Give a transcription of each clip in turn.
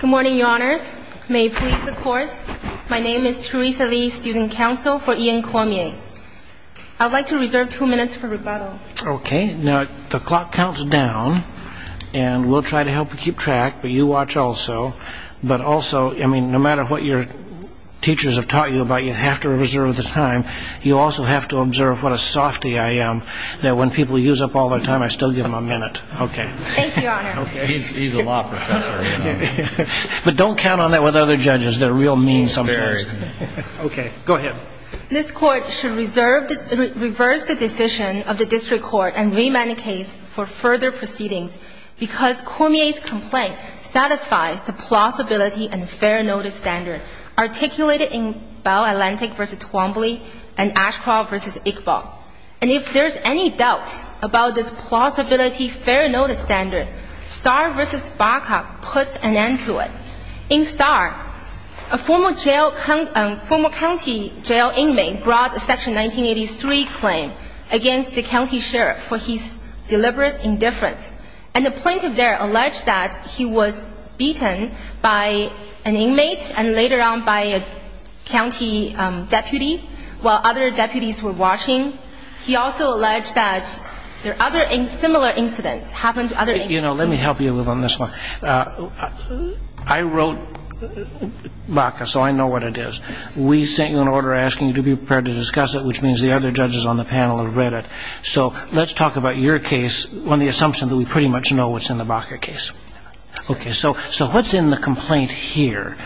Good morning, your honors. May it please the court, my name is Teresa Lee, student counsel for Ian Cormier. I'd like to reserve two minutes for rebuttal. Okay, now the clock counts down and we'll try to help you keep track, but you watch also. But also, I mean, no matter what your teachers have taught you about, you have to reserve the time. You also have to observe what a softy I am, that when people use up all their time, I still give them a minute. Okay, but don't count on that with other judges. They're real mean sometimes. Okay, go ahead. This court should reserve, reverse the decision of the district court and remand the case for further proceedings because Cormier's complaint satisfies the plausibility and fair notice standard articulated in Bell Atlantic v. Twombly and Ashcroft v. Iqbal. And if there's any doubt about this plausibility fair notice standard, Starr v. Baca puts an end to it. In Starr, a former county jail inmate brought a section 1983 claim against the county sheriff for his deliberate indifference and the plaintiff there alleged that he was beaten by an inmate and later on by a county deputy while other deputies were watching. He also alleged that there are other similar incidents happened to other inmates. You know, let me help you a little on this one. I wrote Baca, so I know what it is. We sent you an order asking you to be prepared to discuss it, which means the other judges on the panel have read it. So let's talk about your case on the assumption that we pretty much know what's in the Baca case. Okay, so what's in the complaint here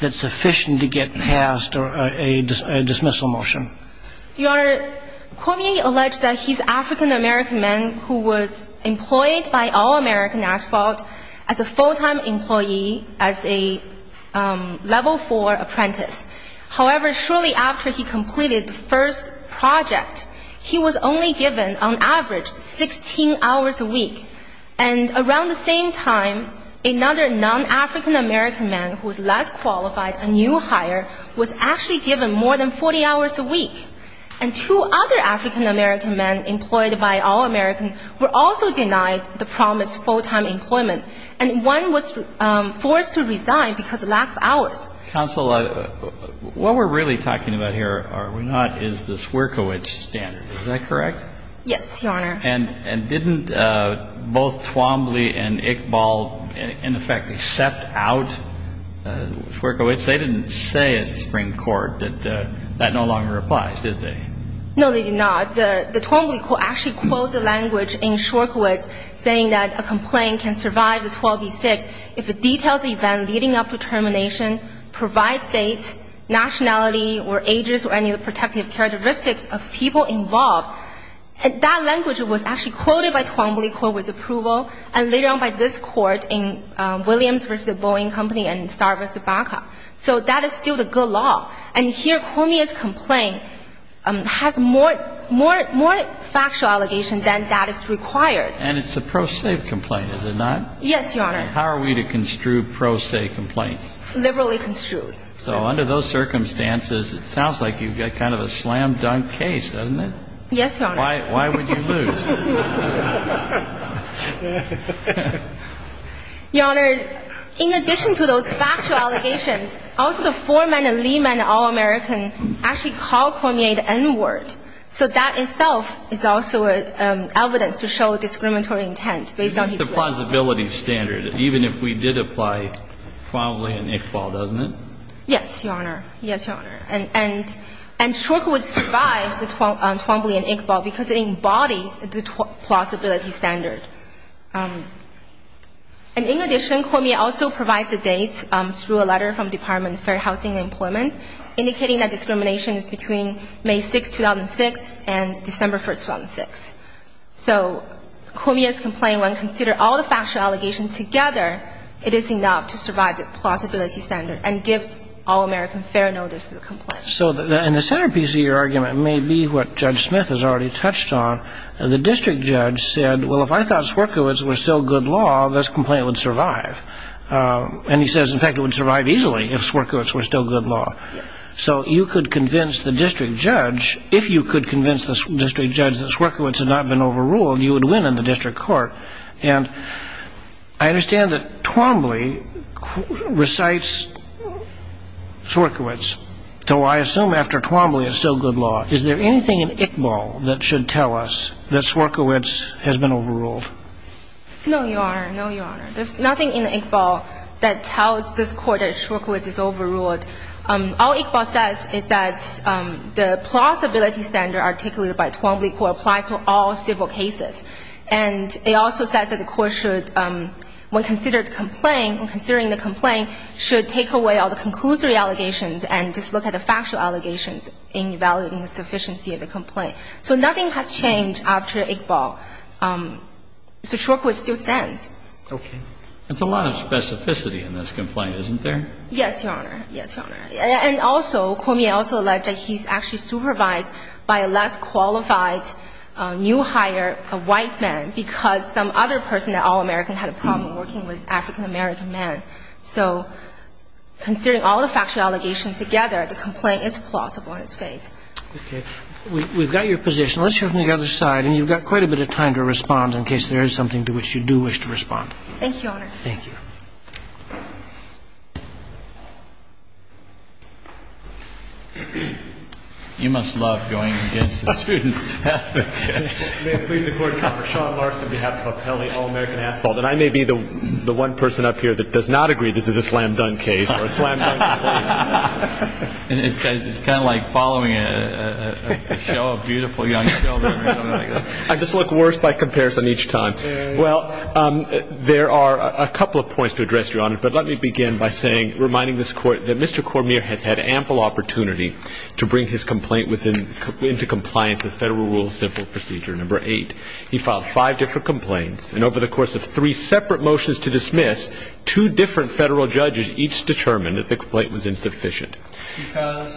that's sufficient to get past a dismissal motion? Your Honor, Cormier alleged that he's African-American man who was employed by All-American Asphalt as a full-time employee as a level four apprentice. However, shortly after he completed the first project, he was only given on average 16 hours a week and around the same time another non-African-American man who was less qualified, a new hire, was actually given more than 40 hours a week. And two other African-American men employed by All-American were also denied the promised full-time employment, and one was forced to resign because of lack of hours. Counsel, what we're really talking about here, are we not, is the Czwierkiewicz standard. Is that correct? Yes, Your Honor. And didn't both Twombly and Iqbal in effect accept out Czwierkiewicz? They didn't say at the Supreme Court in response, did they? No, they did not. The Twombly Court actually quoted the language in Czwierkiewicz saying that a complaint can survive the 12 v. 6 if it details the event leading up to termination, provides dates, nationality, or ages, or any of the protective characteristics of people involved. That language was actually quoted by Twombly Court with approval, and later on by this court in Williams v. Boeing Company and Star v. Baca. So that is still the good law. And here is the problem, Your Honor, is that Twombly Court, in fact, is the only one in the United States that has a good law. Twombly Court has a good law, but Twombly Court's complaint has more factual allegations than that is required. And it's a pro se complaint, is it not? Yes, Your Honor. And how are we to construe pro se complaints? Liberally construed. So under those circumstances, it sounds like you've got kind of a slam-dunk case, doesn't it? Yes, Your Honor. Why would you lose? Your Honor, in addition to those factual allegations, also the foreman and lieman, all American, actually called Cormier the N-word. So that itself is also evidence to show discriminatory intent based on his will. This is the plausibility standard. Even if we did apply Twombly and Iqbal, doesn't it? Yes, Your Honor. And Shorkwood survives the Twombly and Iqbal because it embodies the plausibility standard. And in addition, Cormier also provides the dates through a letter from the Department of Fair Housing and Employment, indicating that discrimination is between May 6, 2006 and December 1, 2006. So Cormier's complaint, when considered, all the factual allegations together, it is enough to survive the fair notice of the complaint. So in the centerpiece of your argument may be what Judge Smith has already touched on. The district judge said, well, if I thought Swierkiewicz was still good law, this complaint would survive. And he says, in fact, it would survive easily if Swierkiewicz were still good law. So you could convince the district judge, if you could convince the district judge that Swierkiewicz had been overruled, you would win in the district court. And I understand that Twombly recites Swierkiewicz, though I assume after Twombly it's still good law. Is there anything in Iqbal that should tell us that Swierkiewicz has been overruled? No, Your Honor. No, Your Honor. There's nothing in Iqbal that tells this Court that Swierkiewicz is overruled. All Iqbal says is that the plausibility standard articulated by Twombly Court applies to all civil cases. And it also says that the Court should, when considering the complaint, should take away all the conclusory allegations and just look at the factual allegations in evaluating the sufficiency of the complaint. So nothing has changed after Iqbal. So Swierkiewicz still stands. Okay. That's a lot of specificity in this complaint, isn't there? Yes, Your Honor. Yes, Your Honor. And also, Twombly also alleged that he's actually supervised by a less qualified new hire, a white man, because some other person at All-American had a problem working with African-American men. So considering all the factual allegations together, the complaint is plausible in its face. Okay. We've got your position. Let's hear from the other side. And you've got quite a bit of time to respond in case there is something to which you do wish to respond. Thank you, Your Honor. Thank you. You must love going against the student. May it please the Court, I'm Sean Larson on behalf of Appellee All-American Asphalt. And I may be the one person up here that does not agree this is a slam-dunk case or a slam-dunk complaint. And it's kind of like following a show of beautiful young children or something like that. I just look worse by comparison each time. Well, there are a couple of points to address, Your Honor. But let me begin by saying, reminding this Court that Mr. Cormier has had ample opportunity to bring his complaint into compliance with Federal Rules of Civil Procedure No. 8. He filed five different complaints. And over the course of three separate motions to dismiss, two different Federal judges each determined that the complaint was insufficient. Because?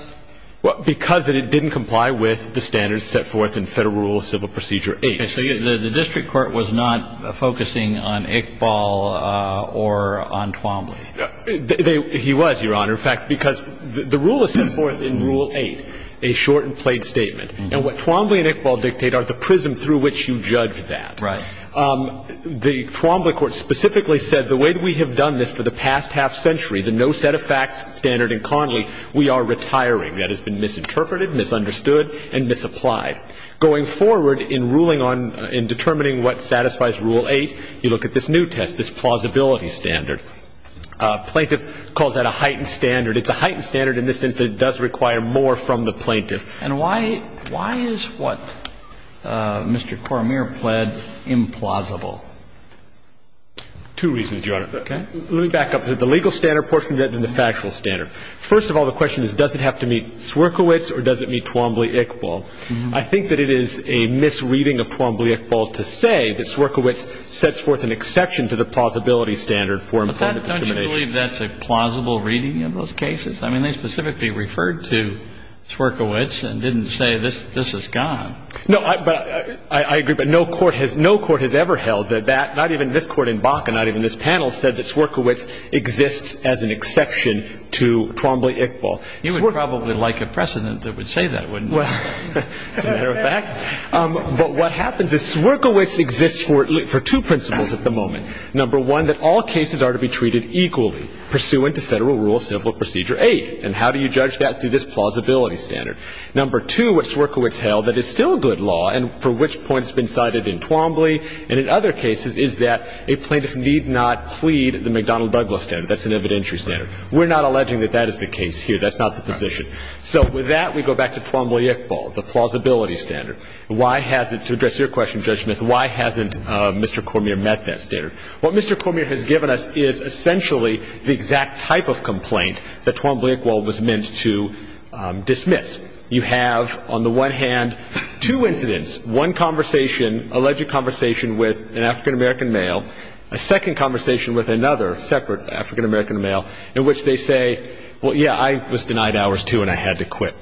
Because it didn't comply with the standards set forth in Federal Rules of Civil Procedure 8. Okay. So the district court was not focusing on Iqbal or on Twombly. He was, Your Honor. In fact, because the rule is set forth in Rule 8, a shortened plate statement. And what Twombly and Iqbal dictate are the prism through which you judge that. Right. The Twombly court specifically said the way that we have done this for the past half-century, the no set-of-facts standard in Connolly, we are retiring. That has been misinterpreted, misunderstood, and misapplied. Going forward in ruling on, in determining what satisfies Rule 8, you look at this new test, this plausibility standard. Plaintiff calls that a heightened standard. It's a heightened standard in the sense that it does require more from the plaintiff. And why, why is what Mr. Cormier pled implausible? Two reasons, Your Honor. Okay. Let me back up. The legal standard portion and then the factual standard. First of all, the question is, does it have to meet Swerkiewicz or does it meet Twombly-Iqbal? I think that it is a misreading of Twombly-Iqbal to say that Swerkiewicz sets forth an exception to the plausibility standard for employment discrimination. Do you believe that's a plausible reading of those cases? I mean, they specifically referred to Swerkiewicz and didn't say this is gone. No, I agree, but no court has ever held that that, not even this court in Bakke, not even this panel, said that Swerkiewicz exists as an exception to Twombly-Iqbal. You would probably like a precedent that would say that, wouldn't you? Well, as a matter of fact, but what happens is Swerkiewicz exists for two principles at the moment. Number one, that all cases are to be treated equally pursuant to Federal Rule Civil Procedure 8. And how do you judge that? Through this plausibility standard. Number two, what Swerkiewicz held, that it's still a good law and for which point it's been cited in Twombly and in other cases is that a plaintiff need not plead the McDonnell-Douglas standard. That's an evidentiary standard. We're not alleging that that is the case here. That's not the position. So with that, we go back to Twombly-Iqbal, the plausibility standard. To address your question, Judge Smith, why hasn't Mr. Cormier met that standard? What Mr. Cormier has given us is essentially the exact type of complaint that Twombly-Iqbal was meant to dismiss. You have, on the one hand, two incidents. One conversation, alleged conversation with an African-American male. A second conversation with another separate African-American male in which they say, well, yeah, I was denied hours, too, and I had to quit.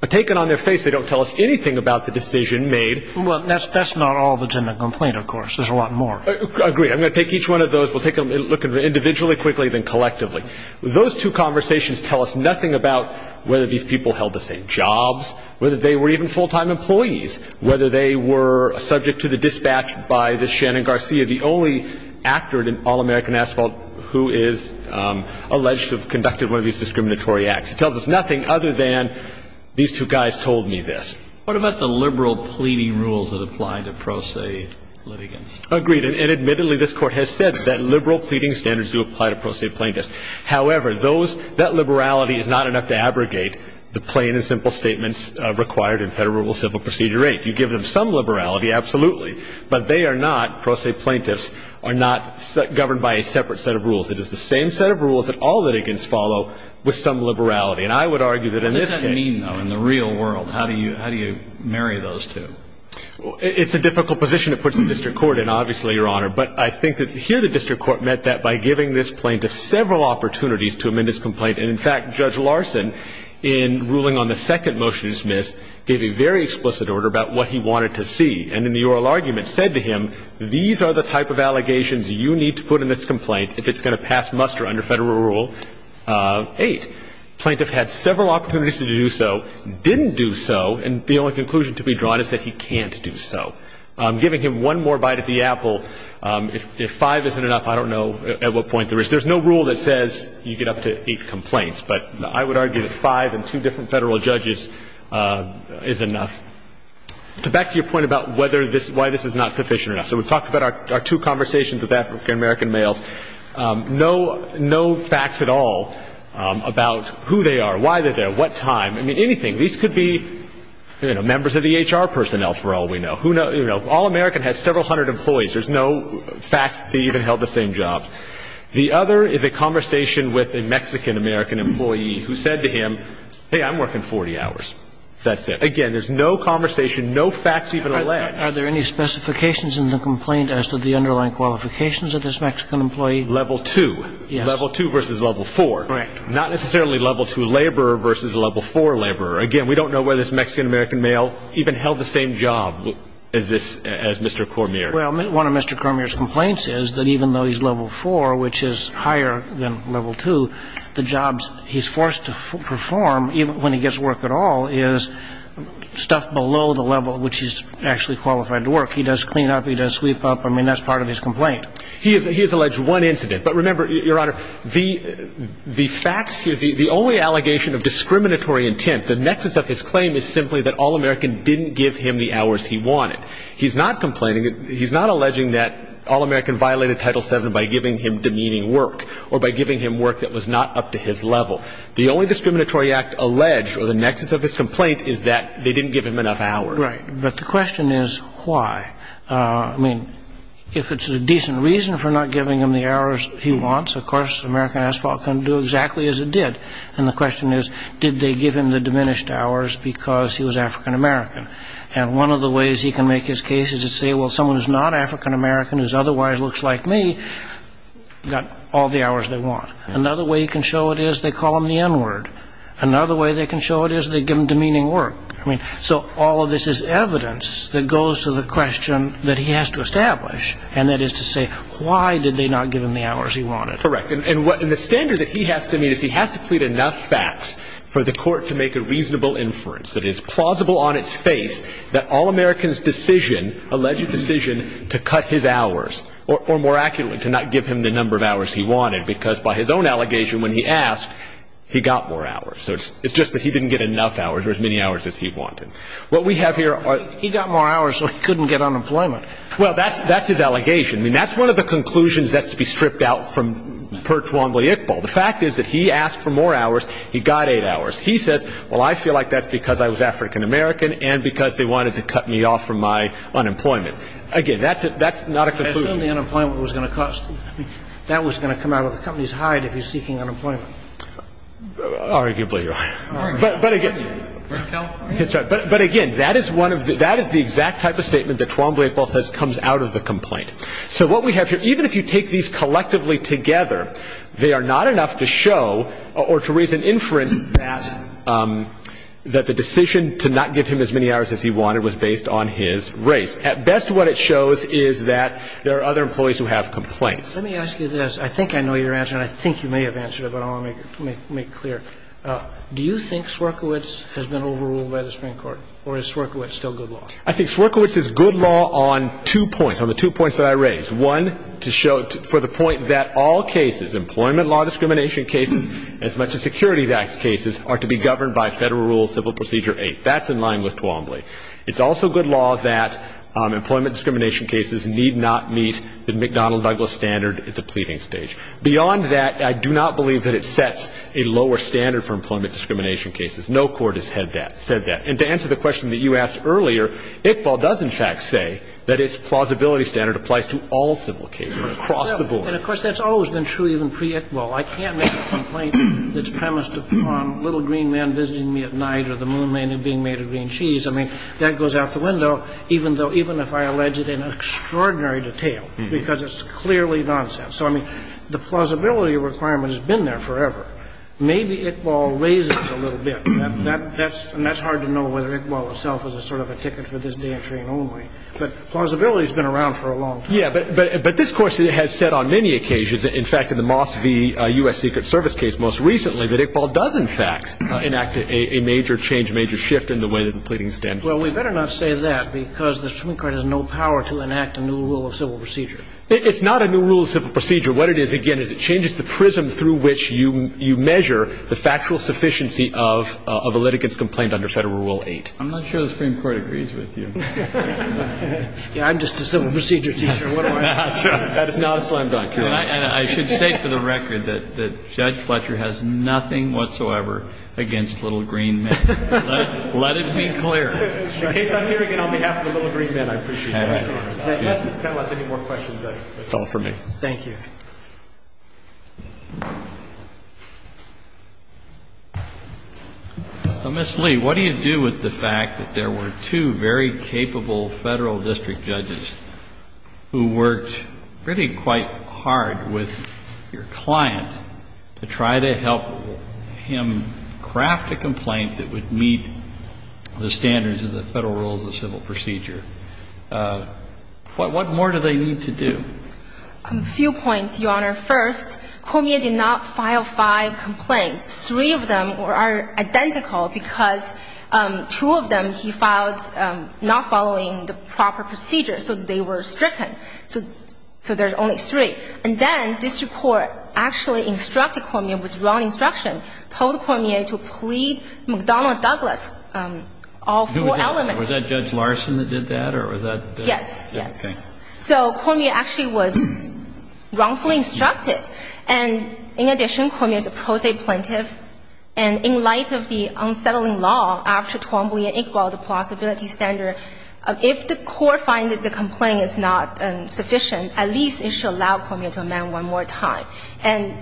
A taken on their face, they don't tell us anything about the decision made. Well, that's not all that's in the complaint, of course. There's a lot more. Agreed. I'm going to take each one of those. We'll take a look at them individually, quickly, then collectively. Those two conversations tell us nothing about whether these people held the same jobs, whether they were even full-time employees, whether they were subject to the dispatch by the Shannon Garcia, the only actor in All-American Asphalt who is alleged to have conducted one of these discriminatory acts. It tells us nothing other than these two guys told me this. What about the liberal pleading rules that apply to pro se litigants? Agreed. And admittedly, this Court has said that liberal pleading standards do apply to pro se plaintiffs. However, that liberality is not enough to abrogate the plain and simple statements required in Federal Civil Procedure 8. You give them some liberality, absolutely, but they are not, pro se plaintiffs, are not governed by a separate set of rules. It is the same set of rules that all litigants follow with some liberality. And I would argue that in this case. What does that mean, though, in the real world? How do you marry those two? It's a difficult position to put the district court in, obviously, Your Honor. But I think that here the district court meant that by giving this plaintiff several opportunities to amend his complaint. And in fact, Judge Larson, in ruling on the second motion to dismiss, gave a very explicit order about what he wanted to see. And in the oral argument said to him, these are the type of allegations you need to put in this complaint if it's going to pass muster under Federal rule 8. Plaintiff had several opportunities to do so, didn't do so, and the only conclusion to be drawn is that he can't do so. I'm giving him one more bite at the apple. If 5 isn't enough, I don't know at what point there is. There's no rule that says you get up to 8 complaints. But I would argue that 5 and two different Federal judges is enough. Back to your point about why this is not sufficient enough. So we talked about our two conversations with African American males. No facts at all about who they are, why they're there, what time. I mean, anything. These could be members of the HR personnel, for all we know. All American has several hundred employees. There's no fact that they even held the same job. The other is a conversation with a Mexican American employee who said to him, hey, I'm working 40 hours. That's it. Again, there's no conversation, no facts even alleged. Are there any specifications in the complaint as to the underlying qualifications of this Mexican employee? Level 2. Level 2 versus level 4. Correct. Not necessarily level 2 laborer versus level 4 laborer. Again, we don't know whether this Mexican American male even held the same job as Mr. Cormier. Well, one of Mr. Cormier's complaints is that even though he's level 4, which is higher than level 2, the jobs he's forced to perform, even when he gets work at all, is stuff below the level which he's actually qualified to work. He does clean up. He does sweep up. I mean, that's part of his complaint. He has alleged one incident. But remember, Your Honor, the facts here, the only allegation of discriminatory intent, the nexus of his claim is simply that All American didn't give him the hours he wanted. He's not complaining. He's not alleging that All American violated Title VII by giving him demeaning work or by giving him work that was not up to his level. The only discriminatory act alleged or the nexus of his complaint is that they didn't give him enough hours. Right. But the question is why. I mean, if it's a decent reason for not giving him the hours he wants, of course, American Asphalt couldn't do exactly as it did. And the question is, did they give him the diminished hours because he was African American? And one of the ways he can make his case is to say, well, someone who's not African American who otherwise looks like me got all the hours they want. Another way he can show it is they call him the N-word. Another way they can show it is they give him demeaning work. I mean, so all of this is evidence that goes to the question that he has to establish, and that is to say, why did they not give him the hours he wanted? Correct. And the standard that he has to meet is he has to plead enough facts for the court to make a reasonable inference that it is plausible on its face that all Americans' decision, alleged decision, to cut his hours, or more accurately, to not give him the number of hours he wanted, because by his own allegation when he asked, he got more hours. So it's just that he didn't get enough hours or as many hours as he wanted. What we have here are... He got more hours so he couldn't get unemployment. Well, that's his allegation. I mean, that's one of the conclusions that's to be stripped out from Per Twombly-Iqbal. The fact is that he asked for more hours. He got eight hours. He says, well, I feel like that's because I was African-American and because they wanted to cut me off from my unemployment. Again, that's not a conclusion. Assuming the unemployment was going to cost... I mean, that was going to come out of the company's hide if he's seeking unemployment. Arguably, Your Honor. But again... But again, that is one of the... That is the exact type of statement that Twombly-Iqbal says comes out of the complaint. So what we have here, even if you take these collectively together, they are not enough to show or to raise an inference that the decision to not give him as many hours as he wanted was based on his race. At best, what it shows is that there are other employees who have complaints. Let me ask you this. I think I know your answer, and I think you may have answered it, but I want to make it clear. Do you think Swerkiewicz has been overruled by the Supreme Court, or is Swerkiewicz still good law? I think Swerkiewicz is good law on two points, on the two points that I raised. One, to show for the point that all cases, employment law discrimination cases as much as securities acts cases, are to be governed by Federal Rule Civil Procedure 8. That's in line with Twombly. It's also good law that employment discrimination cases need not meet the McDonnell-Douglas standard at the pleading stage. Beyond that, I do not believe that it sets a lower standard for employment discrimination cases. No court has said that. And to answer the question that you asked earlier, Iqbal does, in fact, say that its plausibility standard applies to all civil cases across the board. And, of course, that's always been true even pre-Iqbal. I can't make a complaint that's premised upon little green men visiting me at night or the moon men being made of green cheese. I mean, that goes out the window, even though – even if I allege it in extraordinary detail, because it's clearly nonsense. So, I mean, the plausibility requirement has been there forever. Maybe Iqbal raises it a little bit. That's – and that's hard to know whether Iqbal himself is a sort of a ticket for this day and train only. But plausibility has been around for a long time. Yeah, but this Court has said on many occasions, in fact, in the Moss v. U.S. Secret Service case most recently, that Iqbal does, in fact, enact a major change, a major shift in the way that the pleadings stand. Well, we better not say that because the Supreme Court has no power to enact a new rule of civil procedure. It's not a new rule of civil procedure. What it is, again, is it changes the prism through which you measure the factual sufficiency of a litigant's complaint under Federal Rule 8. I'm not sure the Supreme Court agrees with you. I'm just a civil procedure teacher. That is not a slam dunk. And I should say for the record that Judge Fletcher has nothing whatsoever against little green men. Let it be clear. In case I'm hearing it on behalf of the little green men, I appreciate that, Your Honor. Unless this panel has any more questions, that's all for me. Thank you. So, Ms. Lee, what do you do with the fact that there were two very capable Federal district judges who worked really quite hard with your client to try to help him craft a complaint that would meet the standards of the Federal rules of civil procedure? What more do they need to do? A few points, Your Honor. First, Cormier did not file five complaints. Three of them are identical because two of them he filed not following the proper procedure. So they were stricken. So there's only three. And then this report actually instructed Cormier with wrong instruction, told Cormier to plead McDonnell-Douglas, all four elements. Was that Judge Larson that did that? Yes. Yes. Okay. So Cormier actually was wrongfully instructed. And in addition, Cormier is a pro se plaintiff. And in light of the unsettling law after 12B and 8B, the plausibility standard, if the court finds that the complaint is not sufficient, at least it should allow Cormier to amend one more time. And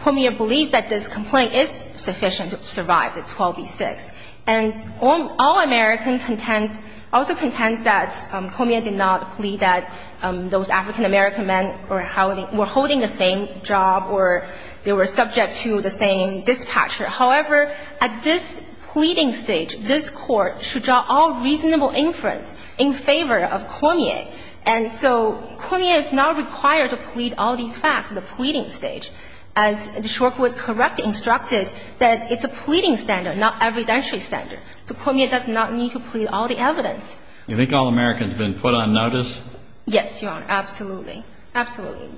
Cormier believes that this complaint is sufficient to survive the 12B-6. And all American contends, also contends that Cormier did not plead that those African-American men were holding the same job or they were subject to the same dispatcher. However, at this pleading stage, this Court should draw all reasonable inference in favor of Cormier. And so Cormier is not required to plead all these facts at the pleading stage. As the short word, correct, instructed, that it's a pleading standard, not evidentiary standard. So Cormier does not need to plead all the evidence. You think all Americans have been put on notice? Yes, Your Honor. Absolutely. Absolutely.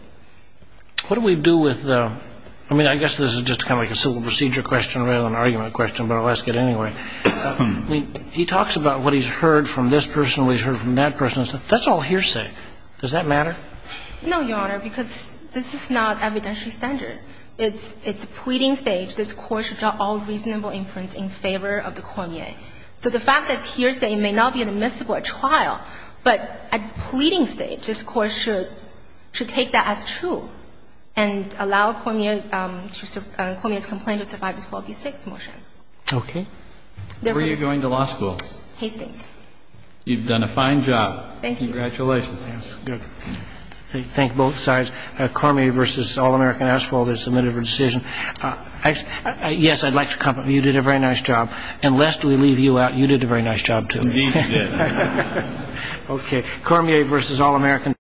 What do we do with the – I mean, I guess this is just kind of like a civil procedure question rather than an argument question, but I'll ask it anyway. I mean, he talks about what he's heard from this person, what he's heard from that That's all hearsay. Does that matter? No, Your Honor, because this is not evidentiary standard. It's a pleading stage. This Court should draw all reasonable inference in favor of the Cormier. So the fact that it's hearsay may not be admissible at trial, but at pleading stage, this Court should take that as true and allow Cormier's complaint to survive the 12 v. 6 motion. Okay. Where are you going to law school? Hastings. You've done a fine job. Thank you. Congratulations. Thank you. Good. Thank both sides. Cormier v. All-American Asphalt has submitted her decision. Yes, I'd like to compliment you. You did a very nice job. And lest we leave you out, you did a very nice job, too. Indeed, we did. Okay. Cormier v. All-American Asphalt.